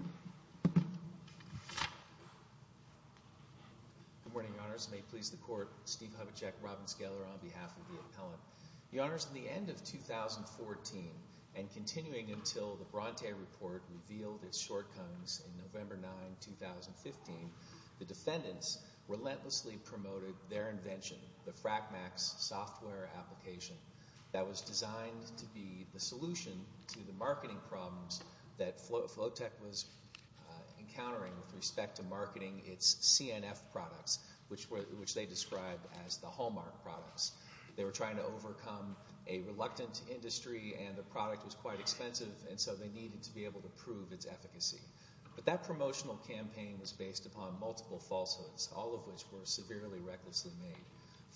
Good morning, Your Honors. May it please the Court, Steve Hubachek, Robin Scaler, on behalf of the appellant. Your Honors, in the end of 2014, and continuing until the Bronte Report revealed its shortcomings in November 9, 2015, the defendants relentlessly promoted their invention, the FracMax software application that was designed to be the solution to the marketing problems that Flotek was encountering with respect to marketing its CNF products, which they described as the hallmark products. They were trying to overcome a reluctant industry and the product was quite expensive, and so they needed to be able to prove its efficacy. But that promotional campaign was based upon multiple falsehoods, all of which were severely recklessly made.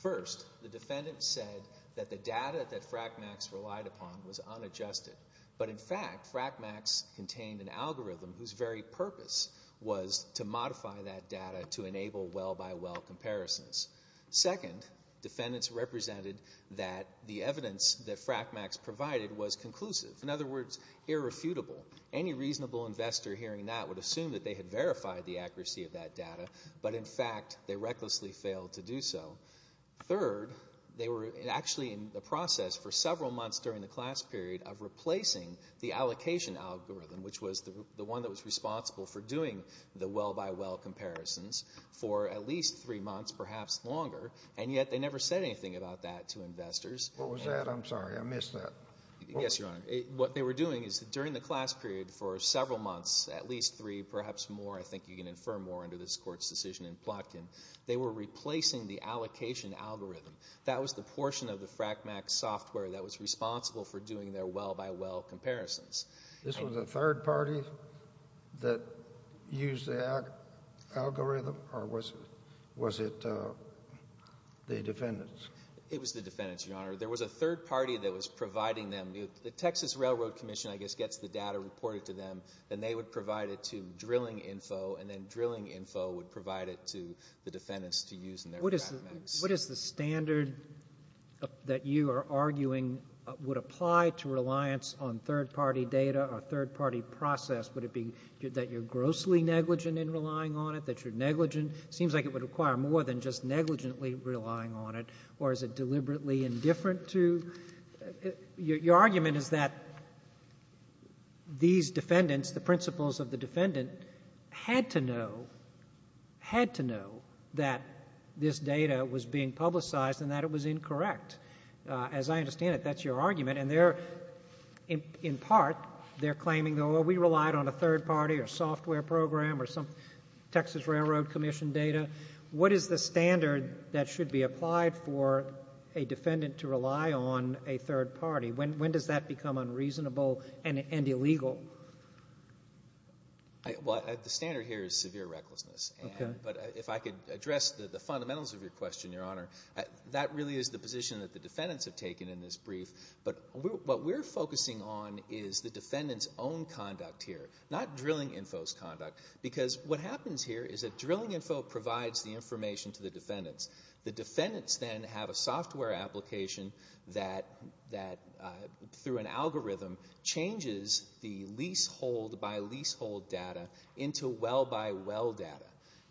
First, the defendants said that the data that FracMax relied upon was unadjusted. But in fact, FracMax contained an algorithm whose very purpose was to modify that data to enable well-by-well comparisons. Second, defendants represented that the evidence that FracMax provided was conclusive, in other words, irrefutable. Any reasonable investor hearing that would assume that they had verified the accuracy of that data, but in fact they recklessly failed to do so. Third, they were actually in the process for several months during the class period of replacing the allocation algorithm, which was the one that was responsible for doing the well-by-well comparisons for at least three months, perhaps longer, and yet they never said anything about that to investors. What was that? I'm sorry. I missed that. Yes, Your Honor. What they were doing is that during the class period for several months, at least three, perhaps more, I think you can infer more under this Court's decision in Plotkin, they were replacing the allocation algorithm. That was the portion of the FracMax software that was responsible for doing their well-by-well comparisons. This was a third party that used the algorithm, or was it the defendants? It was the defendants, Your Honor. There was a third party that was providing them. The Texas Railroad Commission, I guess, gets the data reported to them, and they would provide it to Drilling Info, and then Drilling Info would provide it to the defendants to use in their FracMax. What is the standard that you are arguing would apply to reliance on third party data or third party process? Would it be that you're grossly negligent in relying on it, that you're negligent? It seems like it would require more than just negligently relying on it. Or is it deliberately indifferent to? Your argument is that these defendants, the principles of the defendant, had to know, had to know that this data was being publicized and that it was incorrect. As I understand it, that's your argument, and they're, in part, they're claiming, oh, we relied on a third party or software program or some Texas Railroad Commission data. What is the standard that should be applied for a defendant to rely on a third party? When does that become unreasonable and illegal? Well, the standard here is severe recklessness. But if I could address the fundamentals of your question, Your Honor, that really is the position that the defendants have taken in this brief. But what we're focusing on is the defendant's own conduct here, not Drilling Info's conduct, because what happens here is that Drilling Info provides the information to the defendants. The defendants then have a software application that, through an algorithm, changes the leasehold by leasehold data into well by well data.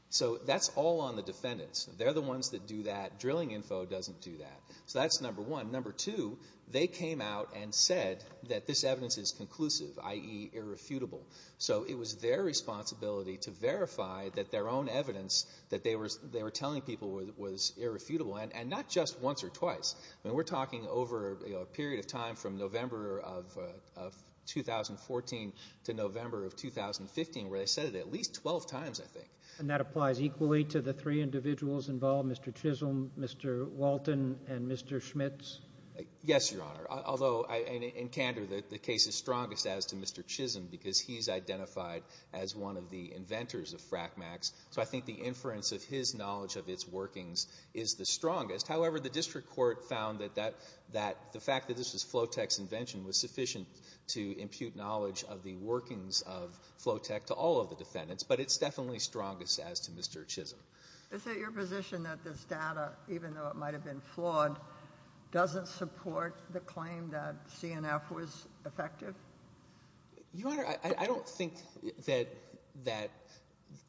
So that's all on the defendants. They're the ones that do that. Drilling Info doesn't do that. So that's number one. Number two, they came out and said that this evidence is conclusive, i.e., irrefutable. So it was their responsibility to verify that their own evidence that they were telling people was irrefutable, and not just once or twice. We're talking over a period of time from November of 2014 to November of 2015, where they said it at least 12 times, I think. And that applies equally to the three individuals involved, Mr. Chisholm, Mr. Walton, and Mr. Schmitz? Yes, Your Honor, although in candor, the case is strongest as to Mr. Chisholm because he's identified as one of the inventors of FRACMAX. So I think the inference of his knowledge of its workings is the strongest. However, the district court found that the fact that this was Flotech's invention was sufficient to impute knowledge of the workings of Flotech to all of the defendants, but it's definitely strongest as to Mr. Chisholm. Is it your position that this data, even though it might have been flawed, doesn't support the claim that CNF was effective? Your Honor, I don't think that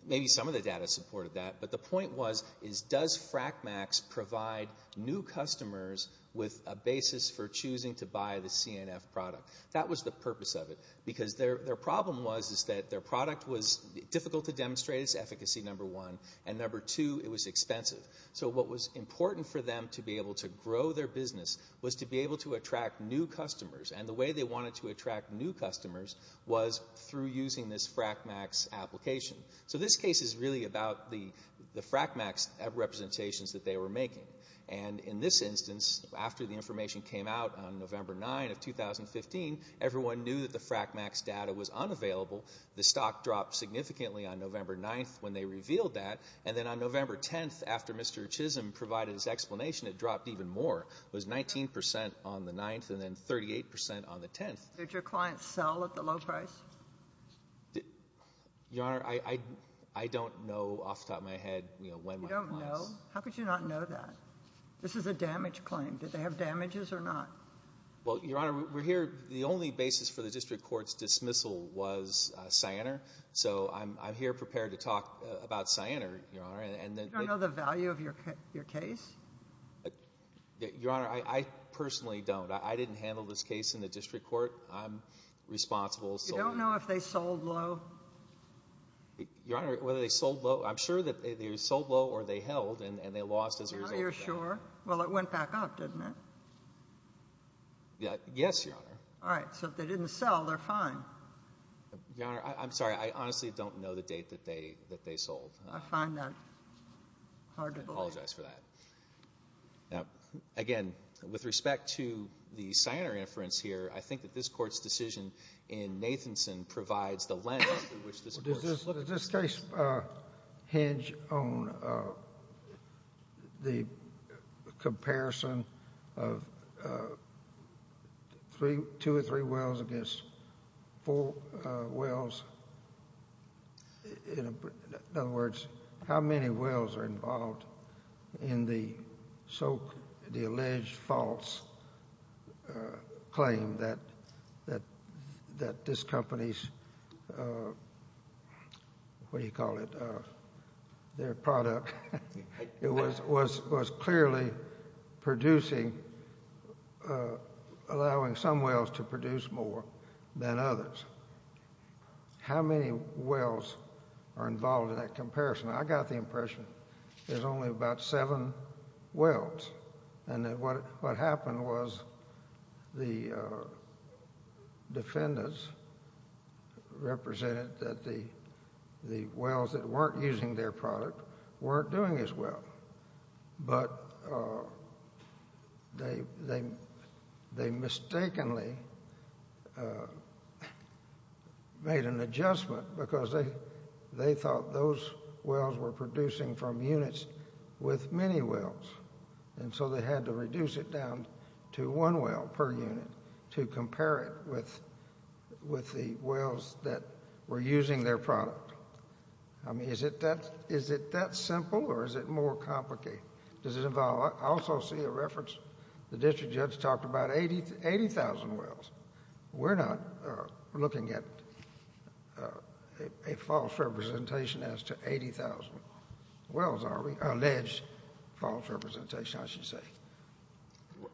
maybe some of the data supported that, but the point was does FRACMAX provide new customers with a basis for choosing to buy the CNF product? That was the purpose of it. Because their problem was that their product was difficult to demonstrate its efficacy, number one, and number two, it was expensive. So what was important for them to be able to grow their business was to be able to attract new customers. And the way they wanted to attract new customers was through using this FRACMAX application. So this case is really about the FRACMAX representations that they were making. And in this instance, after the information came out on November 9 of 2015, everyone knew that the FRACMAX data was unavailable. The stock dropped significantly on November 9 when they revealed that. And then on November 10, after Mr. Chisholm provided his explanation, it dropped even more. It was 19% on the 9th and then 38% on the 10th. Did your clients sell at the low price? Your Honor, I don't know off the top of my head when my clients. You don't know? How could you not know that? This is a damage claim. Did they have damages or not? Well, Your Honor, we're here. The only basis for the district court's dismissal was Cyanar. So I'm here prepared to talk about Cyanar, Your Honor. You don't know the value of your case? Your Honor, I personally don't. I didn't handle this case in the district court. I'm responsible. You don't know if they sold low? Your Honor, whether they sold low, I'm sure that they sold low or they held and they lost as a result of that. Now you're sure. Well, it went back up, didn't it? Yes, Your Honor. All right. So if they didn't sell, they're fine. Your Honor, I'm sorry. I honestly don't know the date that they sold. I find that hard to believe. I apologize for that. Now, again, with respect to the Cyanar inference here, I think that this court's decision in Nathanson provides the length in which this works. Does this case hinge on the comparison of two or three wells against four wells? In other words, how many wells are involved in the alleged false claim that this company's, what do you call it, their product was clearly allowing some wells to produce more than others? How many wells are involved in that comparison? I got the impression there's only about seven wells and that what happened was the defendants represented that the wells that weren't using their product weren't doing as well. But they mistakenly made an adjustment because they thought those wells were producing from units with many wells. And so they had to reduce it down to one well per unit to compare it with the wells that were using their product. I mean, is it that simple or is it more complicated? Does it involve... I also see a reference. The district judge talked about 80,000 wells. We're not looking at a false representation as to 80,000 wells, are we? Alleged false representation, I should say.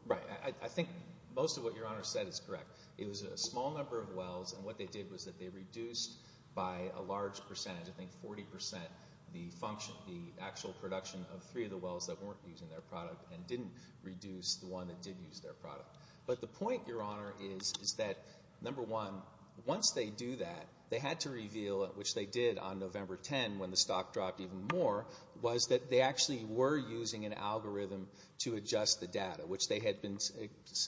Right. I think most of what Your Honor said is correct. It was a small number of wells, and what they did was that they reduced by a large percentage, I think 40%, the actual production of three of the wells that weren't using their product and didn't reduce the one that did use their product. But the point, Your Honor, is that, number one, once they do that, they had to reveal, which they did on November 10 when the stock dropped even more, was that they actually were using an algorithm to adjust the data, which they had been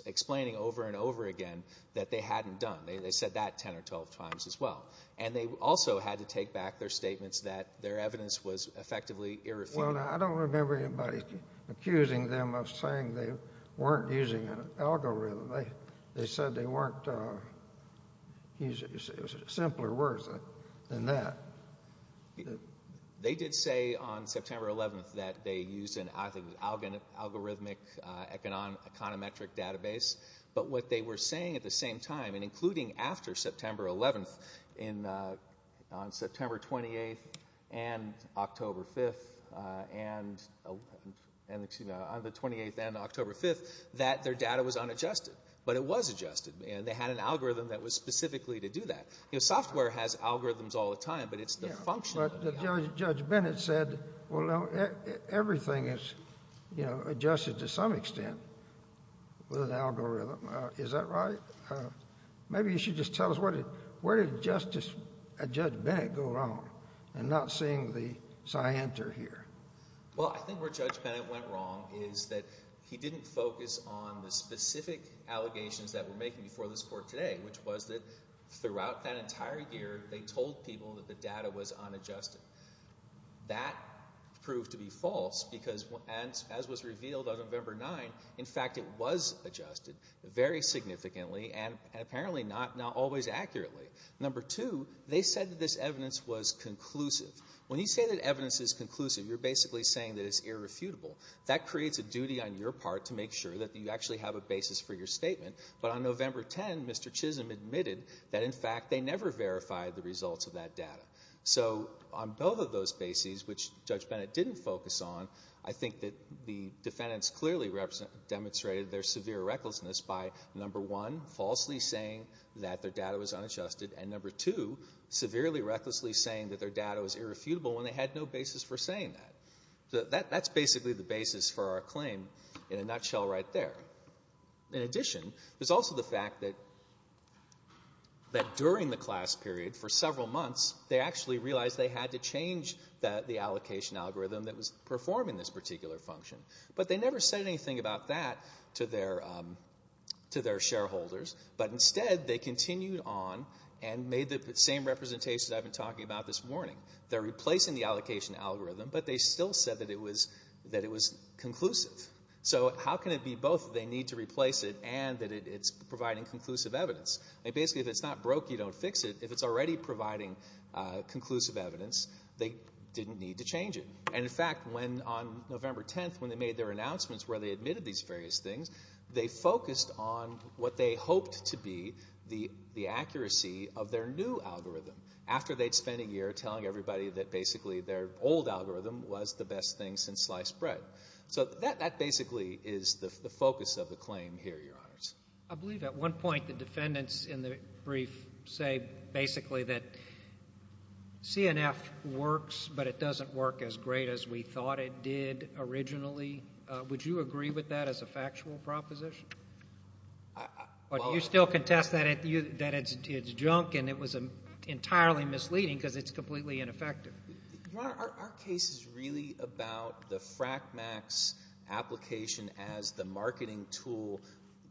explaining over and over again that they hadn't done. They said that 10 or 12 times as well. And they also had to take back their statements that their evidence was effectively irrefutable. I don't remember anybody accusing them of saying they weren't using an algorithm. They said they weren't using it. It was simpler words than that. They did say on September 11 that they used an algorithmic econometric database. But what they were saying at the same time, and including after September 11, on September 28 and October 5, that their data was unadjusted. But it was adjusted, and they had an algorithm that was specifically to do that. Software has algorithms all the time, but it's the function. But Judge Bennett said, well, everything is adjusted to some extent with an algorithm. Is that right? Maybe you should just tell us, where did Judge Bennett go wrong in not seeing the scienter here? Well, I think where Judge Bennett went wrong is that he didn't focus on the specific allegations that were making before this court today, which was that throughout that entire year, they told people that the data was unadjusted. That proved to be false because, as was revealed on November 9, in fact, it was adjusted very significantly and apparently not always accurately. Number two, they said that this evidence was conclusive. When you say that evidence is conclusive, you're basically saying that it's irrefutable. That creates a duty on your part to make sure that you actually have a basis for your statement. But on November 10, Mr. Chisholm admitted that, in fact, they never verified the results of that data. So on both of those bases, which Judge Bennett didn't focus on, I think that the defendants clearly demonstrated their severe recklessness by, number one, falsely saying that their data was unadjusted, and, number two, severely recklessly saying that their data was irrefutable when they had no basis for saying that. That's basically the basis for our claim in a nutshell right there. In addition, there's also the fact that during the class period, for several months, they actually realized they had to change the allocation algorithm that was performing this particular function. But they never said anything about that to their shareholders, but instead they continued on and made the same representations I've been talking about this morning. They're replacing the allocation algorithm, but they still said that it was conclusive. So how can it be both that they need to replace it and that it's providing conclusive evidence? Basically, if it's not broke, you don't fix it. If it's already providing conclusive evidence, they didn't need to change it. In fact, on November 10th, when they made their announcements where they admitted these various things, they focused on what they hoped to be the accuracy of their new algorithm after they'd spent a year telling everybody that basically their old algorithm was the best thing since sliced bread. So that basically is the focus of the claim here, Your Honors. I believe at one point the defendants in the brief say basically that CNF works, but it doesn't work as great as we thought it did originally. Would you agree with that as a factual proposition? Or do you still contest that it's junk and it was entirely misleading because it's completely ineffective? Your Honor, our case is really about the FRACMAX application as the marketing tool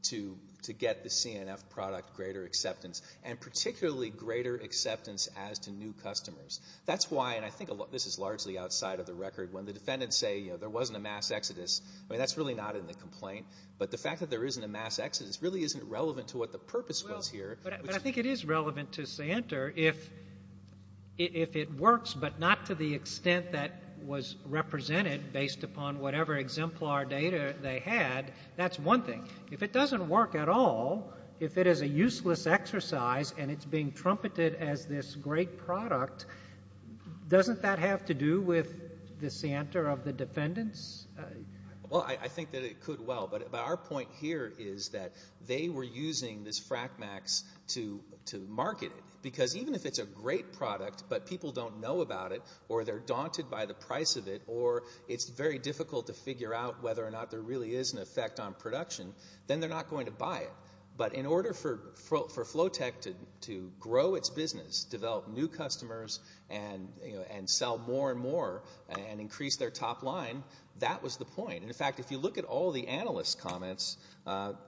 to get the CNF product greater acceptance and particularly greater acceptance as to new customers. That's why, and I think this is largely outside of the record, when the defendants say there wasn't a mass exodus, that's really not in the complaint. But the fact that there isn't a mass exodus really isn't relevant to what the purpose was here. But I think it is relevant to CNTR if it works, but not to the extent that was represented based upon whatever exemplar data they had. That's one thing. If it doesn't work at all, if it is a useless exercise and it's being trumpeted as this great product, doesn't that have to do with the CNTR of the defendants? Well, I think that it could well. But our point here is that they were using this FRACMAX to market it because even if it's a great product but people don't know about it or they're daunted by the price of it or it's very difficult to figure out whether or not there really is an effect on production, then they're not going to buy it. But in order for Flowtech to grow its business, develop new customers, and sell more and more and increase their top line, that was the point. In fact, if you look at all the analysts' comments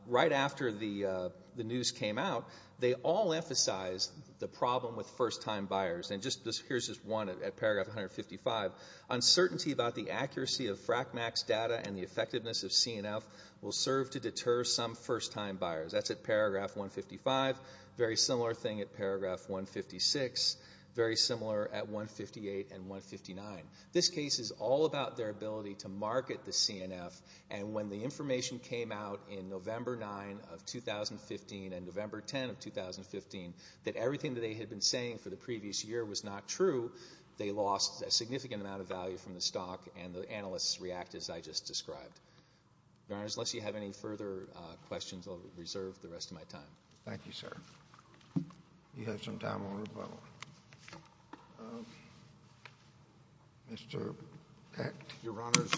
right after the news came out, they all emphasized the problem with first-time buyers. And here's just one at paragraph 155. Uncertainty about the accuracy of FRACMAX data and the effectiveness of CNF will serve to deter some first-time buyers. That's at paragraph 155. Very similar thing at paragraph 156. Very similar at 158 and 159. This case is all about their ability to market the CNF, and when the information came out in November 9 of 2015 and November 10 of 2015 that everything that they had been saying for the previous year was not true, they lost a significant amount of value from the stock, and the analysts reacted as I just described. Your Honors, unless you have any further questions, I'll reserve the rest of my time. Thank you, sir. Do you have some time on your phone? Mr. Pecht. Your Honors,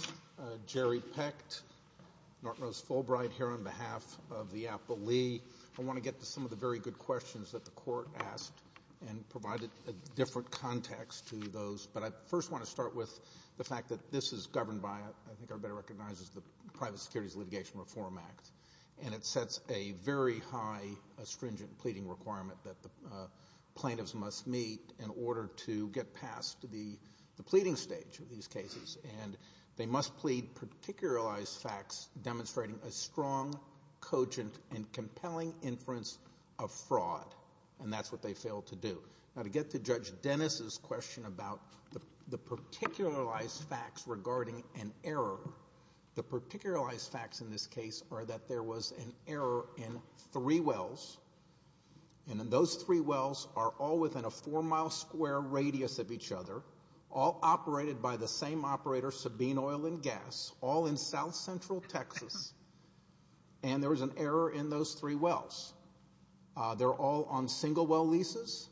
Jerry Pecht, Norton Rose Fulbright here on behalf of the Apple Lee. I want to get to some of the very good questions that the Court asked and provide a different context to those, but I first want to start with the fact that this is governed by, I think everybody recognizes, the Private Securities Litigation Reform Act, and it sets a very high astringent pleading requirement that the plaintiffs must meet in order to get past the pleading stage of these cases, and they must plead particularized facts demonstrating a strong, cogent, and compelling inference of fraud, and that's what they failed to do. Now, to get to Judge Dennis's question about the particularized facts regarding an error, the particularized facts in this case are that there was an error in three wells, and those three wells are all within a four-mile-square radius of each other, all operated by the same operator, Sabine Oil and Gas, all in south-central Texas, and there was an error in those three wells. They're all on single-well leases.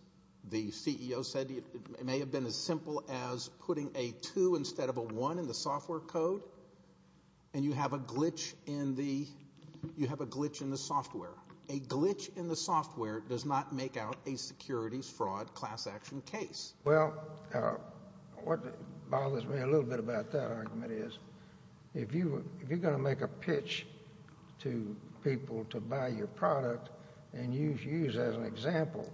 The CEO said it may have been as simple as putting a 2 instead of a 1 in the software code, and you have a glitch in the software. A glitch in the software does not make out a securities fraud class action case. Well, what bothers me a little bit about that argument is if you're going to make a pitch to people to buy your product and use as an example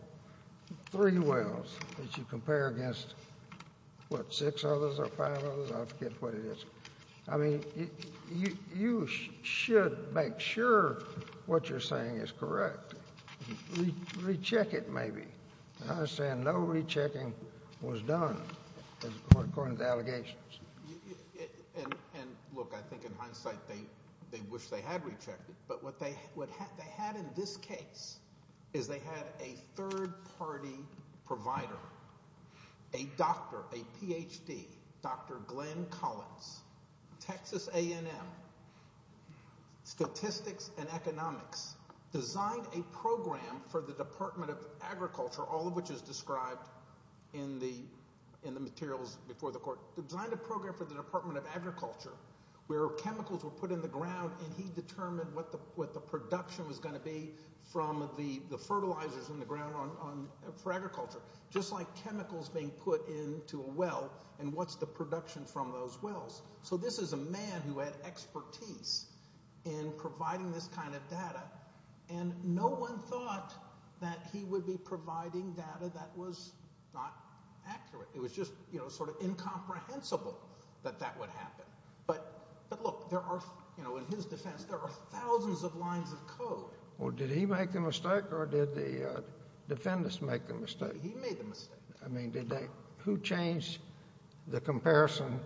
three wells as you compare against, what, six others or five others? I forget what it is. I mean, you should make sure what you're saying is correct. Recheck it maybe. I understand no rechecking was done according to allegations. And, look, I think in hindsight they wish they had rechecked it, but what they had in this case is they had a third-party provider, a doctor, a Ph.D., Dr. Glenn Collins, Texas A&M, statistics and economics, designed a program for the Department of Agriculture, all of which is described in the materials before the court, designed a program for the Department of Agriculture where chemicals were put in the ground and he determined what the production was going to be from the fertilizers in the ground for agriculture, just like chemicals being put into a well and what's the production from those wells. So this is a man who had expertise in providing this kind of data, and no one thought that he would be providing data that was not accurate. It was just sort of incomprehensible that that would happen. But, look, there are, in his defense, there are thousands of lines of code. Well, did he make the mistake or did the defendants make the mistake? He made the mistake. I mean, who changed the comparison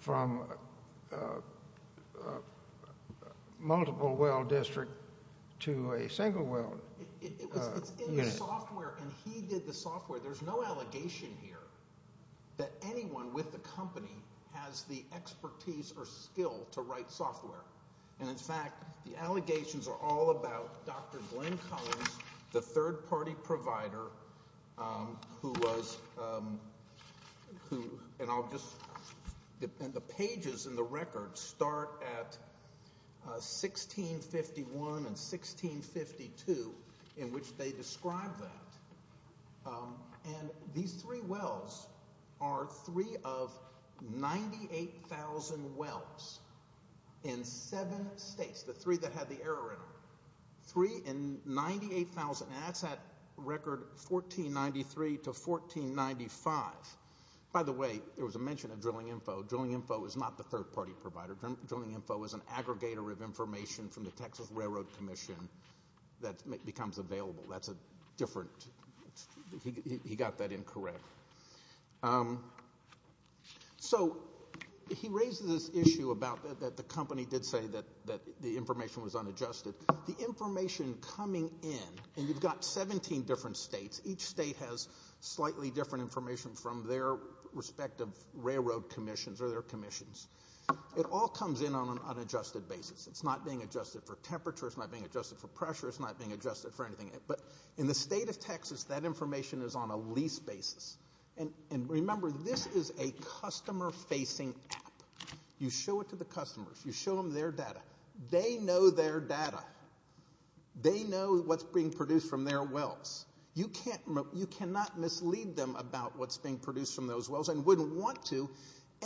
from a multiple well district to a single well? It's in the software, and he did the software. There's no allegation here that anyone with the company has the expertise or skill to write software. And, in fact, the allegations are all about Dr. Glenn Collins, the third-party provider who was – and I'll just – and the pages in the record start at 1651 and 1652 in which they describe that. And these three wells are three of 98,000 wells in seven states, the three that had the error in them. Three in 98,000, and that's at record 1493 to 1495. By the way, there was a mention of Drilling Info. Drilling Info is not the third-party provider. Drilling Info is an aggregator of information from the Texas Railroad Commission that becomes available. That's a different – he got that incorrect. So he raises this issue about that the company did say that the information was unadjusted. The information coming in – and you've got 17 different states. Each state has slightly different information from their respective railroad commissions or their commissions. It all comes in on an unadjusted basis. It's not being adjusted for temperature. It's not being adjusted for pressure. It's not being adjusted for anything. But in the state of Texas, that information is on a lease basis. And remember, this is a customer-facing app. You show it to the customers. You show them their data. They know their data. They know what's being produced from their wells. You cannot mislead them about what's being produced from those wells and wouldn't want to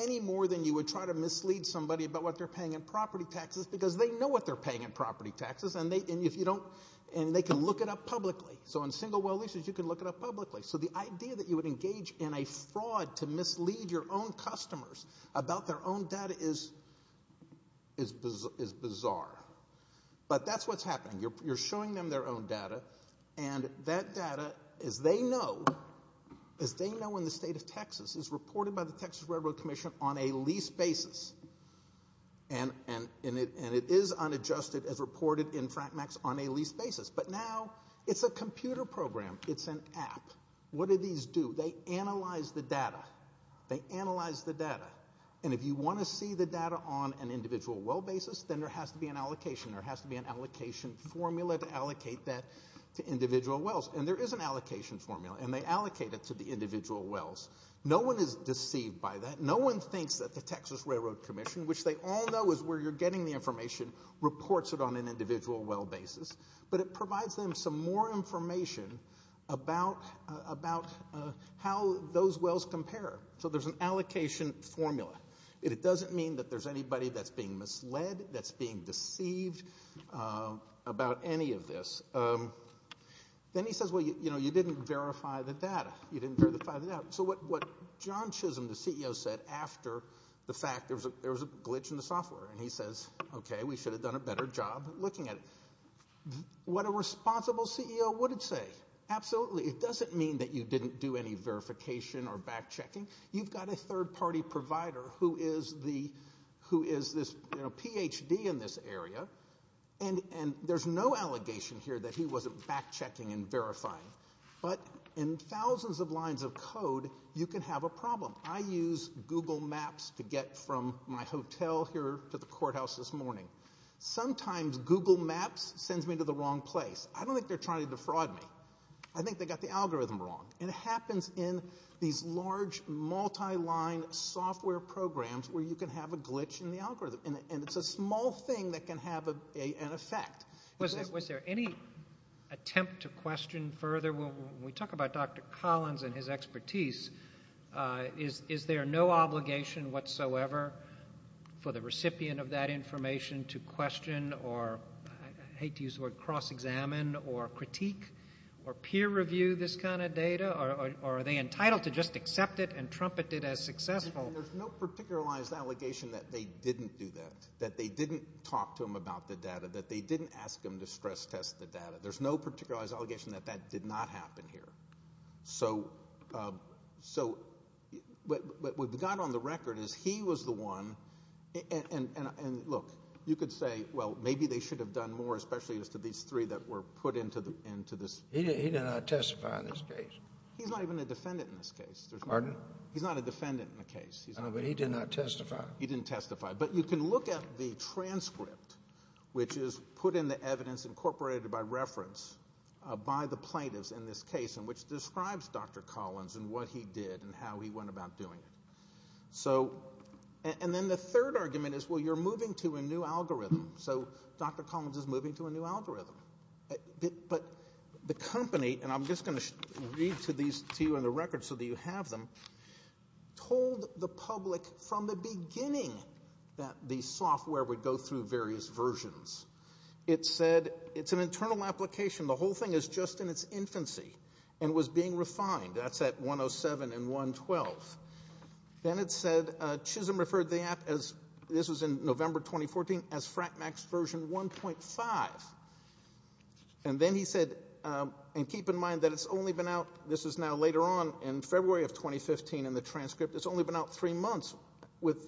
any more than you would try to mislead somebody about what they're paying in property taxes because they know what they're paying in property taxes, and they can look it up publicly. So in single-well leases, you can look it up publicly. So the idea that you would engage in a fraud to mislead your own customers about their own data is bizarre. But that's what's happening. You're showing them their own data, and that data, as they know in the state of Texas, is reported by the Texas Railroad Commission on a lease basis, and it is unadjusted as reported in FRACMAX on a lease basis. But now it's a computer program. It's an app. What do these do? They analyze the data. They analyze the data. And if you want to see the data on an individual well basis, then there has to be an allocation. There has to be an allocation formula to allocate that to individual wells. And there is an allocation formula, and they allocate it to the individual wells. No one is deceived by that. No one thinks that the Texas Railroad Commission, which they all know is where you're getting the information, reports it on an individual well basis. But it provides them some more information about how those wells compare. So there's an allocation formula. It doesn't mean that there's anybody that's being misled, that's being deceived about any of this. Then he says, well, you know, you didn't verify the data. You didn't verify the data. So what John Chisholm, the CEO, said after the fact, there was a glitch in the software, and he says, okay, we should have done a better job looking at it. What a responsible CEO would say, absolutely, it doesn't mean that you didn't do any verification or back checking. You've got a third-party provider who is this Ph.D. in this area, and there's no allegation here that he wasn't back checking and verifying. But in thousands of lines of code, you can have a problem. I used Google Maps to get from my hotel here to the courthouse this morning. Sometimes Google Maps sends me to the wrong place. I don't think they're trying to defraud me. I think they got the algorithm wrong. It happens in these large multi-line software programs where you can have a glitch in the algorithm, and it's a small thing that can have an effect. Was there any attempt to question further? When we talk about Dr. Collins and his expertise, is there no obligation whatsoever for the recipient of that information to question or, I hate to use the word, cross-examine or critique or peer review this kind of data? Or are they entitled to just accept it and trumpet it as successful? There's no particularized allegation that they didn't do that, that they didn't talk to him about the data, that they didn't ask him to stress test the data. There's no particularized allegation that that did not happen here. So what we've got on the record is he was the one. And, look, you could say, well, maybe they should have done more, especially as to these three that were put into this. He did not testify in this case. He's not even a defendant in this case. Pardon? He's not a defendant in the case. No, but he did not testify. He didn't testify. But you can look at the transcript, which is put in the evidence incorporated by reference by the plaintiffs in this case, which describes Dr. Collins and what he did and how he went about doing it. And then the third argument is, well, you're moving to a new algorithm. So Dr. Collins is moving to a new algorithm. But the company, and I'm just going to read to you in the record so that you have them, told the public from the beginning that the software would go through various versions. It said it's an internal application. The whole thing is just in its infancy and was being refined. That's at 107 and 112. Then it said Chisholm referred the app, this was in November 2014, as FRACMAX version 1.5. And then he said, and keep in mind that it's only been out, this is now later on in February of 2015 in the transcript, it's only been out three months with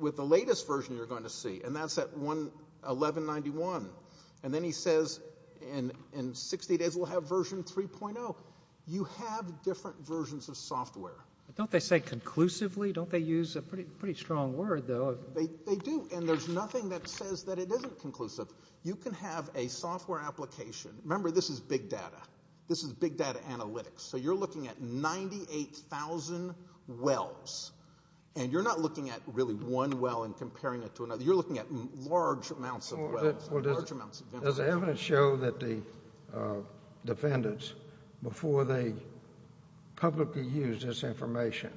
the latest version you're going to see, and that's at 1191. And then he says in 60 days we'll have version 3.0. You have different versions of software. Don't they say conclusively? Don't they use a pretty strong word, though? They do, and there's nothing that says that it isn't conclusive. You can have a software application. Remember, this is big data. This is big data analytics. So you're looking at 98,000 wells, and you're not looking at really one well and comparing it to another. You're looking at large amounts of wells. Does the evidence show that the defendants, before they publicly used this information,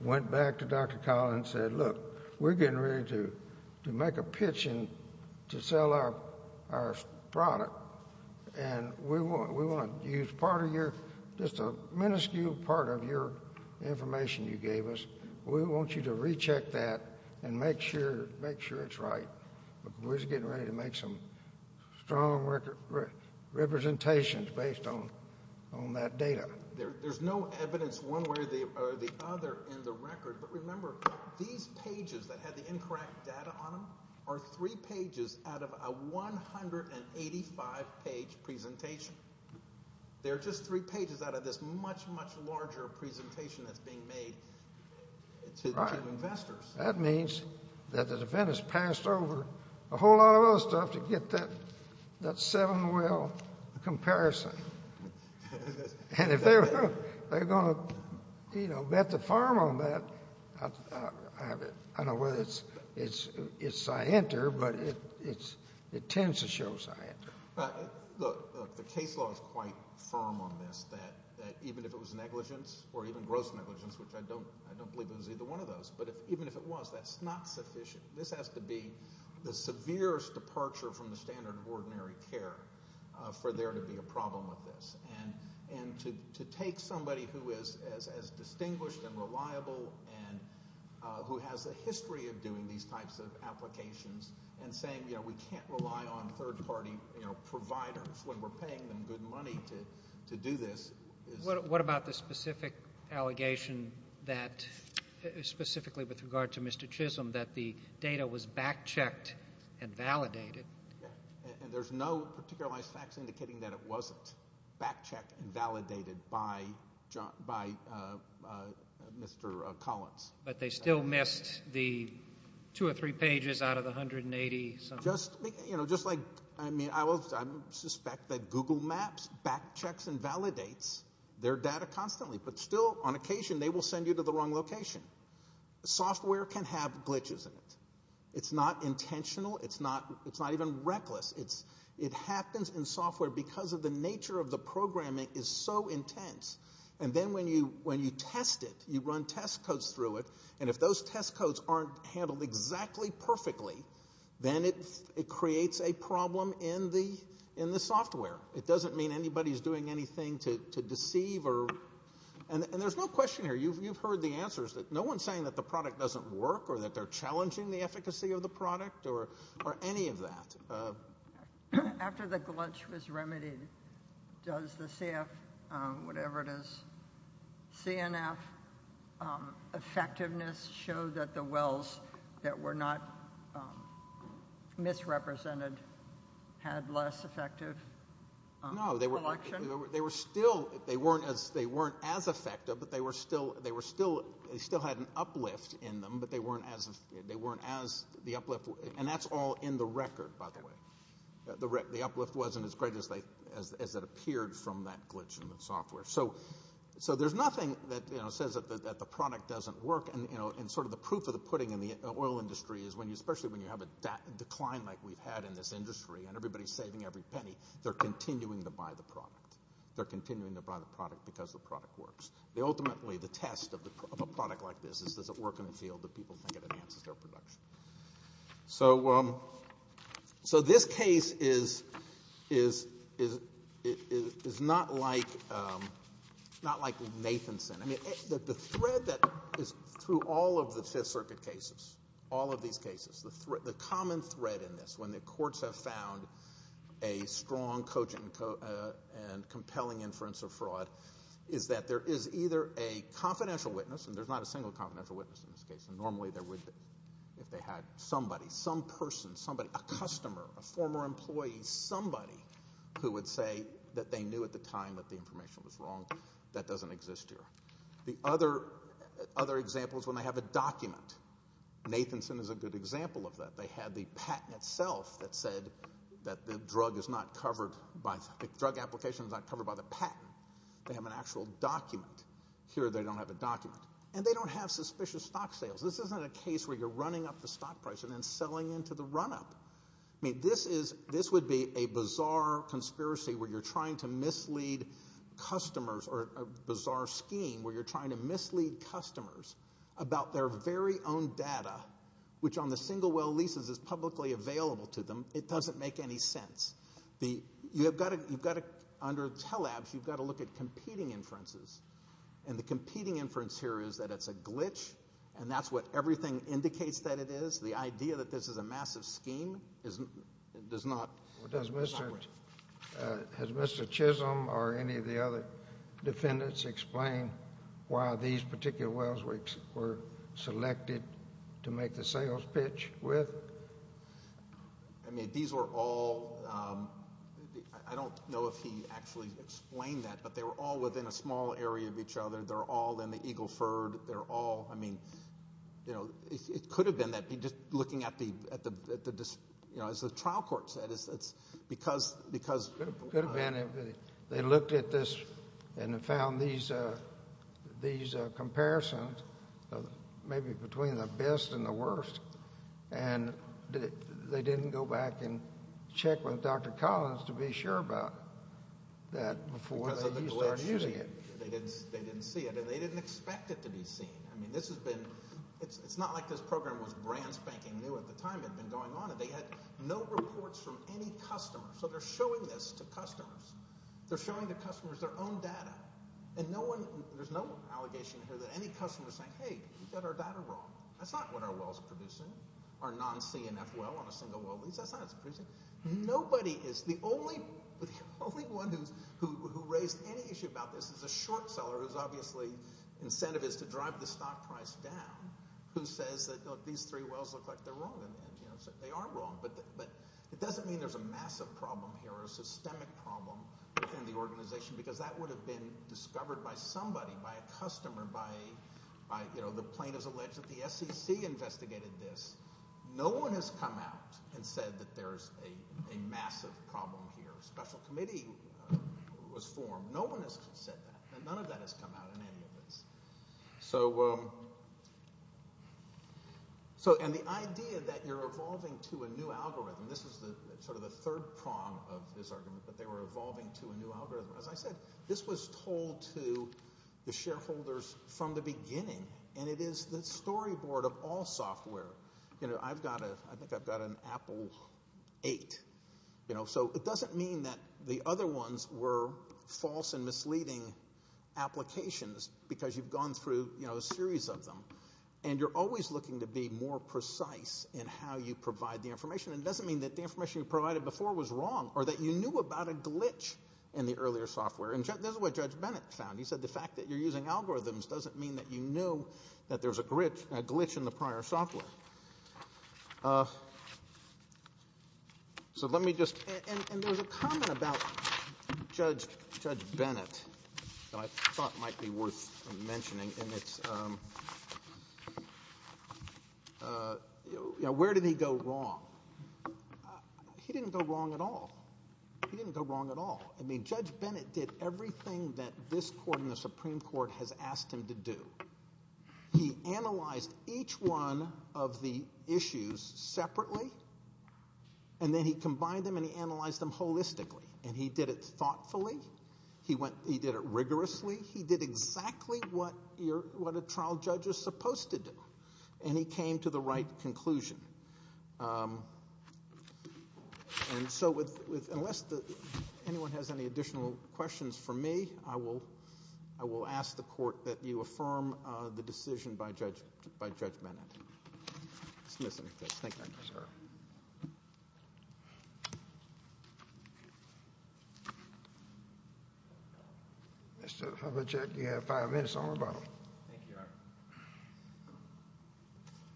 went back to Dr. Collins and said, look, we're getting ready to make a pitch to sell our product, and we want to use part of your, just a minuscule part of your information you gave us. We want you to recheck that and make sure it's right. We're just getting ready to make some strong representations based on that data. There's no evidence one way or the other in the record. But remember, these pages that had the incorrect data on them are three pages out of a 185-page presentation. They're just three pages out of this much, much larger presentation that's being made to investors. That means that the defendants passed over a whole lot of other stuff to get that seven-well comparison. And if they're going to bet the farm on that, I don't know whether it's scienter, but it tends to show scienter. Look, the case law is quite firm on this, that even if it was negligence or even gross negligence, which I don't believe it was either one of those, but even if it was, that's not sufficient. This has to be the severest departure from the standard of ordinary care for there to be a problem with this. And to take somebody who is as distinguished and reliable and who has a history of doing these types of applications and saying, you know, we can't rely on third-party providers when we're paying them good money to do this. What about the specific allegation that, specifically with regard to Mr. Chisholm, that the data was backchecked and validated? And there's no particularized facts indicating that it wasn't backchecked and validated by Mr. Collins. But they still missed the two or three pages out of the 180-something? Just like, I mean, I suspect that Google Maps backchecks and validates their data constantly, but still on occasion they will send you to the wrong location. Software can have glitches in it. It's not intentional. It's not even reckless. It happens in software because of the nature of the programming is so intense. And then when you test it, you run test codes through it, and if those test codes aren't handled exactly perfectly, then it creates a problem in the software. It doesn't mean anybody's doing anything to deceive. And there's no question here. You've heard the answers. No one's saying that the product doesn't work or that they're challenging the efficacy of the product or any of that. After the glitch was remedied, does the CF, whatever it is, CNF effectiveness show that the wells that were not misrepresented had less effective collection? No, they were still, they weren't as effective, but they were still, they still had an uplift in them, but they weren't as, the uplift, and that's all in the record, by the way. The uplift wasn't as great as it appeared from that glitch in the software. So there's nothing that says that the product doesn't work, and sort of the proof of the pudding in the oil industry is especially when you have a decline like we've had in this industry and everybody's saving every penny, they're continuing to buy the product. They're continuing to buy the product because the product works. Ultimately, the test of a product like this is does it work in a field that people think it enhances their production. So this case is not like Nathanson. I mean, the thread that is through all of the Fifth Circuit cases, all of these cases, the common thread in this, when the courts have found a strong and compelling inference of fraud, is that there is either a confidential witness, and there's not a single confidential witness in this case, and normally there would be if they had somebody, some person, somebody, a customer, a former employee, somebody who would say that they knew at the time that the information was wrong. That doesn't exist here. The other example is when they have a document. Nathanson is a good example of that. They had the patent itself that said that the drug application is not covered by the patent. They have an actual document. Here they don't have a document, and they don't have suspicious stock sales. This isn't a case where you're running up the stock price and then selling into the run-up. I mean, this would be a bizarre conspiracy where you're trying to mislead customers, or a bizarre scheme where you're trying to mislead customers about their very own data, which on the single-well leases is publicly available to them. It doesn't make any sense. You've got to, under Telabs, you've got to look at competing inferences, and the competing inference here is that it's a glitch, and that's what everything indicates that it is. The idea that this is a massive scheme does not work. Well, does Mr. Chisholm or any of the other defendants explain why these particular wells were selected to make the sales pitch with? I mean, these were all... I don't know if he actually explained that, but they were all within a small area of each other. They're all in the Eagleford. I mean, it could have been that. As the trial court said, it's because... It could have been. They looked at this and found these comparisons, maybe between the best and the worst, and they didn't go back and check with Dr. Collins to be sure about that before they started using it. They didn't see it, and they didn't expect it to be seen. I mean, this has been... It's not like this program was brand-spanking new at the time. It had been going on, and they had no reports from any customer, so they're showing this to customers. They're showing the customers their own data, and there's no allegation here that any customer is saying, hey, we've got our data wrong. That's not what our well's producing, our non-CNF well on a single-well lease. That's not what it's producing. Nobody is... The only one who raised any issue about this is a short seller whose, obviously, incentive is to drive the stock price down, who says that, look, these three wells look like they're wrong, and they are wrong. But it doesn't mean there's a massive problem here or a systemic problem within the organization, because that would have been discovered by somebody, by a customer, by, you know, the plaintiff's alleged that the SEC investigated this. No one has come out and said that there's a massive problem here. A special committee was formed. No one has said that, and none of that has come out in any of this. So... And the idea that you're evolving to a new algorithm, this is sort of the third prong of this argument, that they were evolving to a new algorithm. As I said, this was told to the shareholders from the beginning, and it is the storyboard of all software. You know, I've got a... I think I've got an Apple 8, you know, so it doesn't mean that the other ones were false and misleading applications, because you've gone through, you know, a series of them. And you're always looking to be more precise in how you provide the information. It doesn't mean that the information you provided before was wrong or that you knew about a glitch in the earlier software. And this is what Judge Bennett found. He said the fact that you're using algorithms doesn't mean that you knew that there was a glitch in the prior software. So let me just... And there's a comment about Judge Bennett that I thought might be worth mentioning, and it's, you know, where did he go wrong? He didn't go wrong at all. He didn't go wrong at all. I mean, Judge Bennett did everything that this court and the Supreme Court has asked him to do. He analyzed each one of the issues separately, and then he combined them and he analyzed them holistically. And he did it thoughtfully. He did it rigorously. He did exactly what a trial judge is supposed to do, and he came to the right conclusion. And so unless anyone has any additional questions for me, I will ask the court that you affirm the decision by Judge Bennett. Let's listen to this. Thank you, sir. Mr. Hubbachek, you have five minutes on the bottom. Thank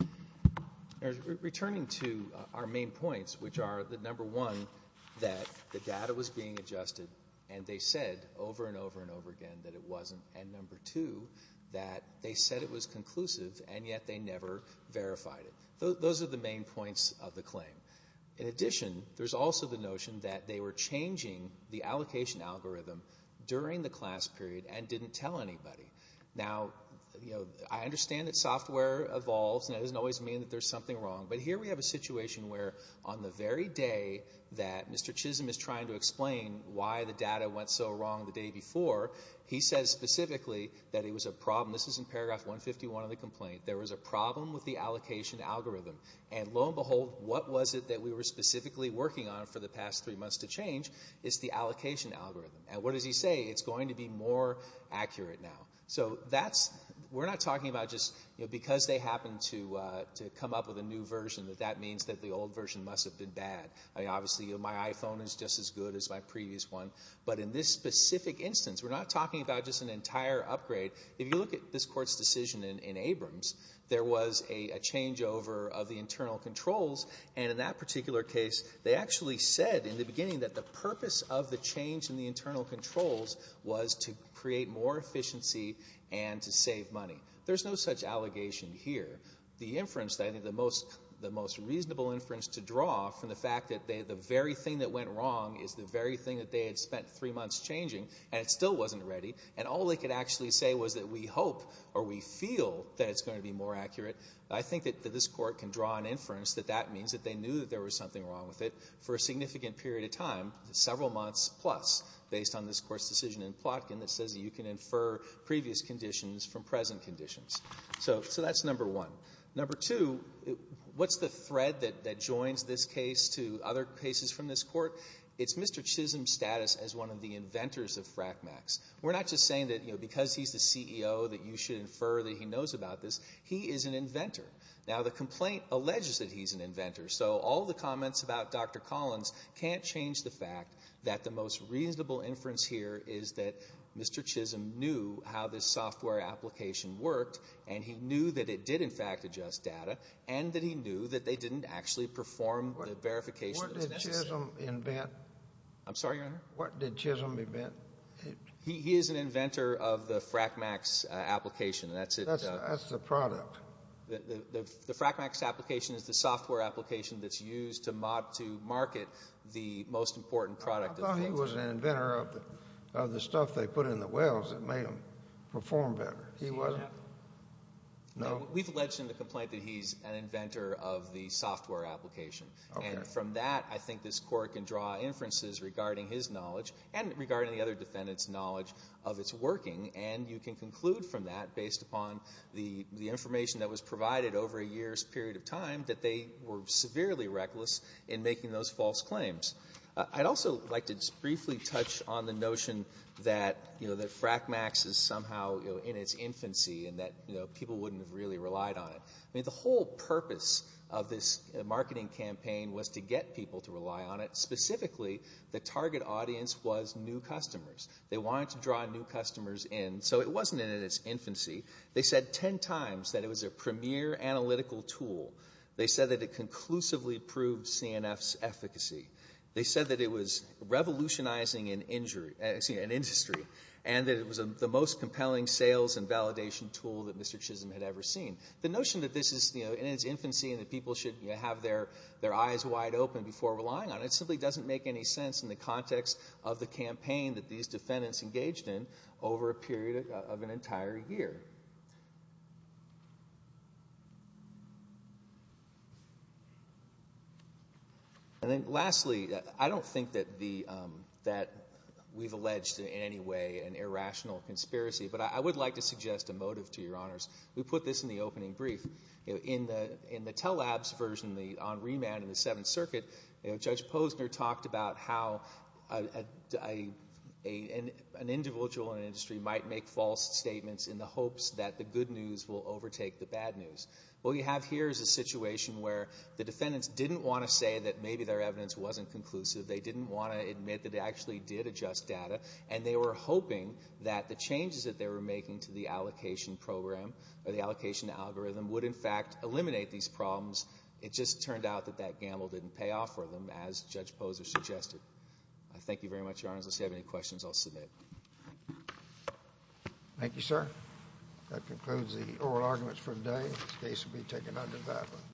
you, Your Honor. Returning to our main points, which are, number one, that the data was being adjusted, and they said over and over and over again that it wasn't, and number two, that they said it was conclusive and yet they never verified it. Those are the main points of the claim. In addition, there's also the notion that they were changing the allocation algorithm during the class period and didn't tell anybody. Now, I understand that software evolves, and that doesn't always mean that there's something wrong, but here we have a situation where on the very day that Mr. Chisholm is trying to explain why the data went so wrong the day before, he says specifically that it was a problem. This is in paragraph 151 of the complaint. There was a problem with the allocation algorithm, and lo and behold, what was it that we were specifically working on for the past three months to change is the allocation algorithm. And what does he say? It's going to be more accurate now. So we're not talking about just because they happened to come up with a new version that that means that the old version must have been bad. Obviously my iPhone is just as good as my previous one, but in this specific instance, we're not talking about just an entire upgrade. If you look at this Court's decision in Abrams, there was a changeover of the internal controls, and in that particular case, they actually said in the beginning that the purpose of the change in the internal controls was to create more efficiency and to save money. There's no such allegation here. The inference that I think the most reasonable inference to draw from the fact that the very thing that went wrong is the very thing that they had spent three months changing, and it still wasn't ready, and all they could actually say was that we hope or we feel that it's going to be more accurate, I think that this Court can draw an inference that that means that they knew that there was something wrong with it for a significant period of time, several months plus, based on this Court's decision in Plotkin that says that you can infer previous conditions from present conditions. So that's number one. Number two, what's the thread that joins this case to other cases from this Court? It's Mr. Chisholm's status as one of the inventors of FRACMAX. We're not just saying that because he's the CEO that you should infer that he knows about this. He is an inventor. Now, the complaint alleges that he's an inventor, so all the comments about Dr. Collins can't change the fact that the most reasonable inference here is that Mr. Chisholm knew how this software application worked, and he knew that it did, in fact, adjust data, and that he knew that they didn't actually perform the verification. What did Chisholm invent? I'm sorry, Your Honor? What did Chisholm invent? He is an inventor of the FRACMAX application. That's it. That's the product. The FRACMAX application is the software application that's used to market the most important product. I thought he was an inventor of the stuff they put in the wells that made them perform better. He wasn't? No. We've alleged in the complaint that he's an inventor of the software application. Okay. And from that, I think this Court can draw inferences regarding his knowledge and regarding the other defendants' knowledge of its working, and you can conclude from that, based upon the information that was provided over a year's period of time, that they were severely reckless in making those false claims. I'd also like to just briefly touch on the notion that, you know, that FRACMAX is somehow in its infancy and that, you know, people wouldn't have really relied on it. I mean, the whole purpose of this marketing campaign was to get people to rely on it. Specifically, the target audience was new customers. They wanted to draw new customers in, so it wasn't in its infancy. They said ten times that it was a premier analytical tool. They said that it conclusively proved CNF's efficacy. They said that it was revolutionizing an industry and that it was the most compelling sales and validation tool that Mr. Chisholm had ever seen. The notion that this is, you know, in its infancy and that people should have their eyes wide open before relying on it simply doesn't make any sense in the context of the campaign that these defendants engaged in over a period of an entire year. And then lastly, I don't think that we've alleged in any way an irrational conspiracy, but I would like to suggest a motive to your honors. We put this in the opening brief. In the Telabs version on remand in the Seventh Circuit, Judge Posner talked about how an individual in an industry might make false statements in the hopes that the good news will overtake the bad news. What we have here is a situation where the defendants didn't want to say that maybe their evidence wasn't conclusive. They didn't want to admit that they actually did adjust data, and they were hoping that the changes that they were making to the allocation algorithm would, in fact, eliminate these problems. It just turned out that that gamble didn't pay off for them, as Judge Posner suggested. Thank you very much, your honors. Unless you have any questions, I'll submit. Thank you, sir. That concludes the oral arguments for today. This case will be taken under BAPA.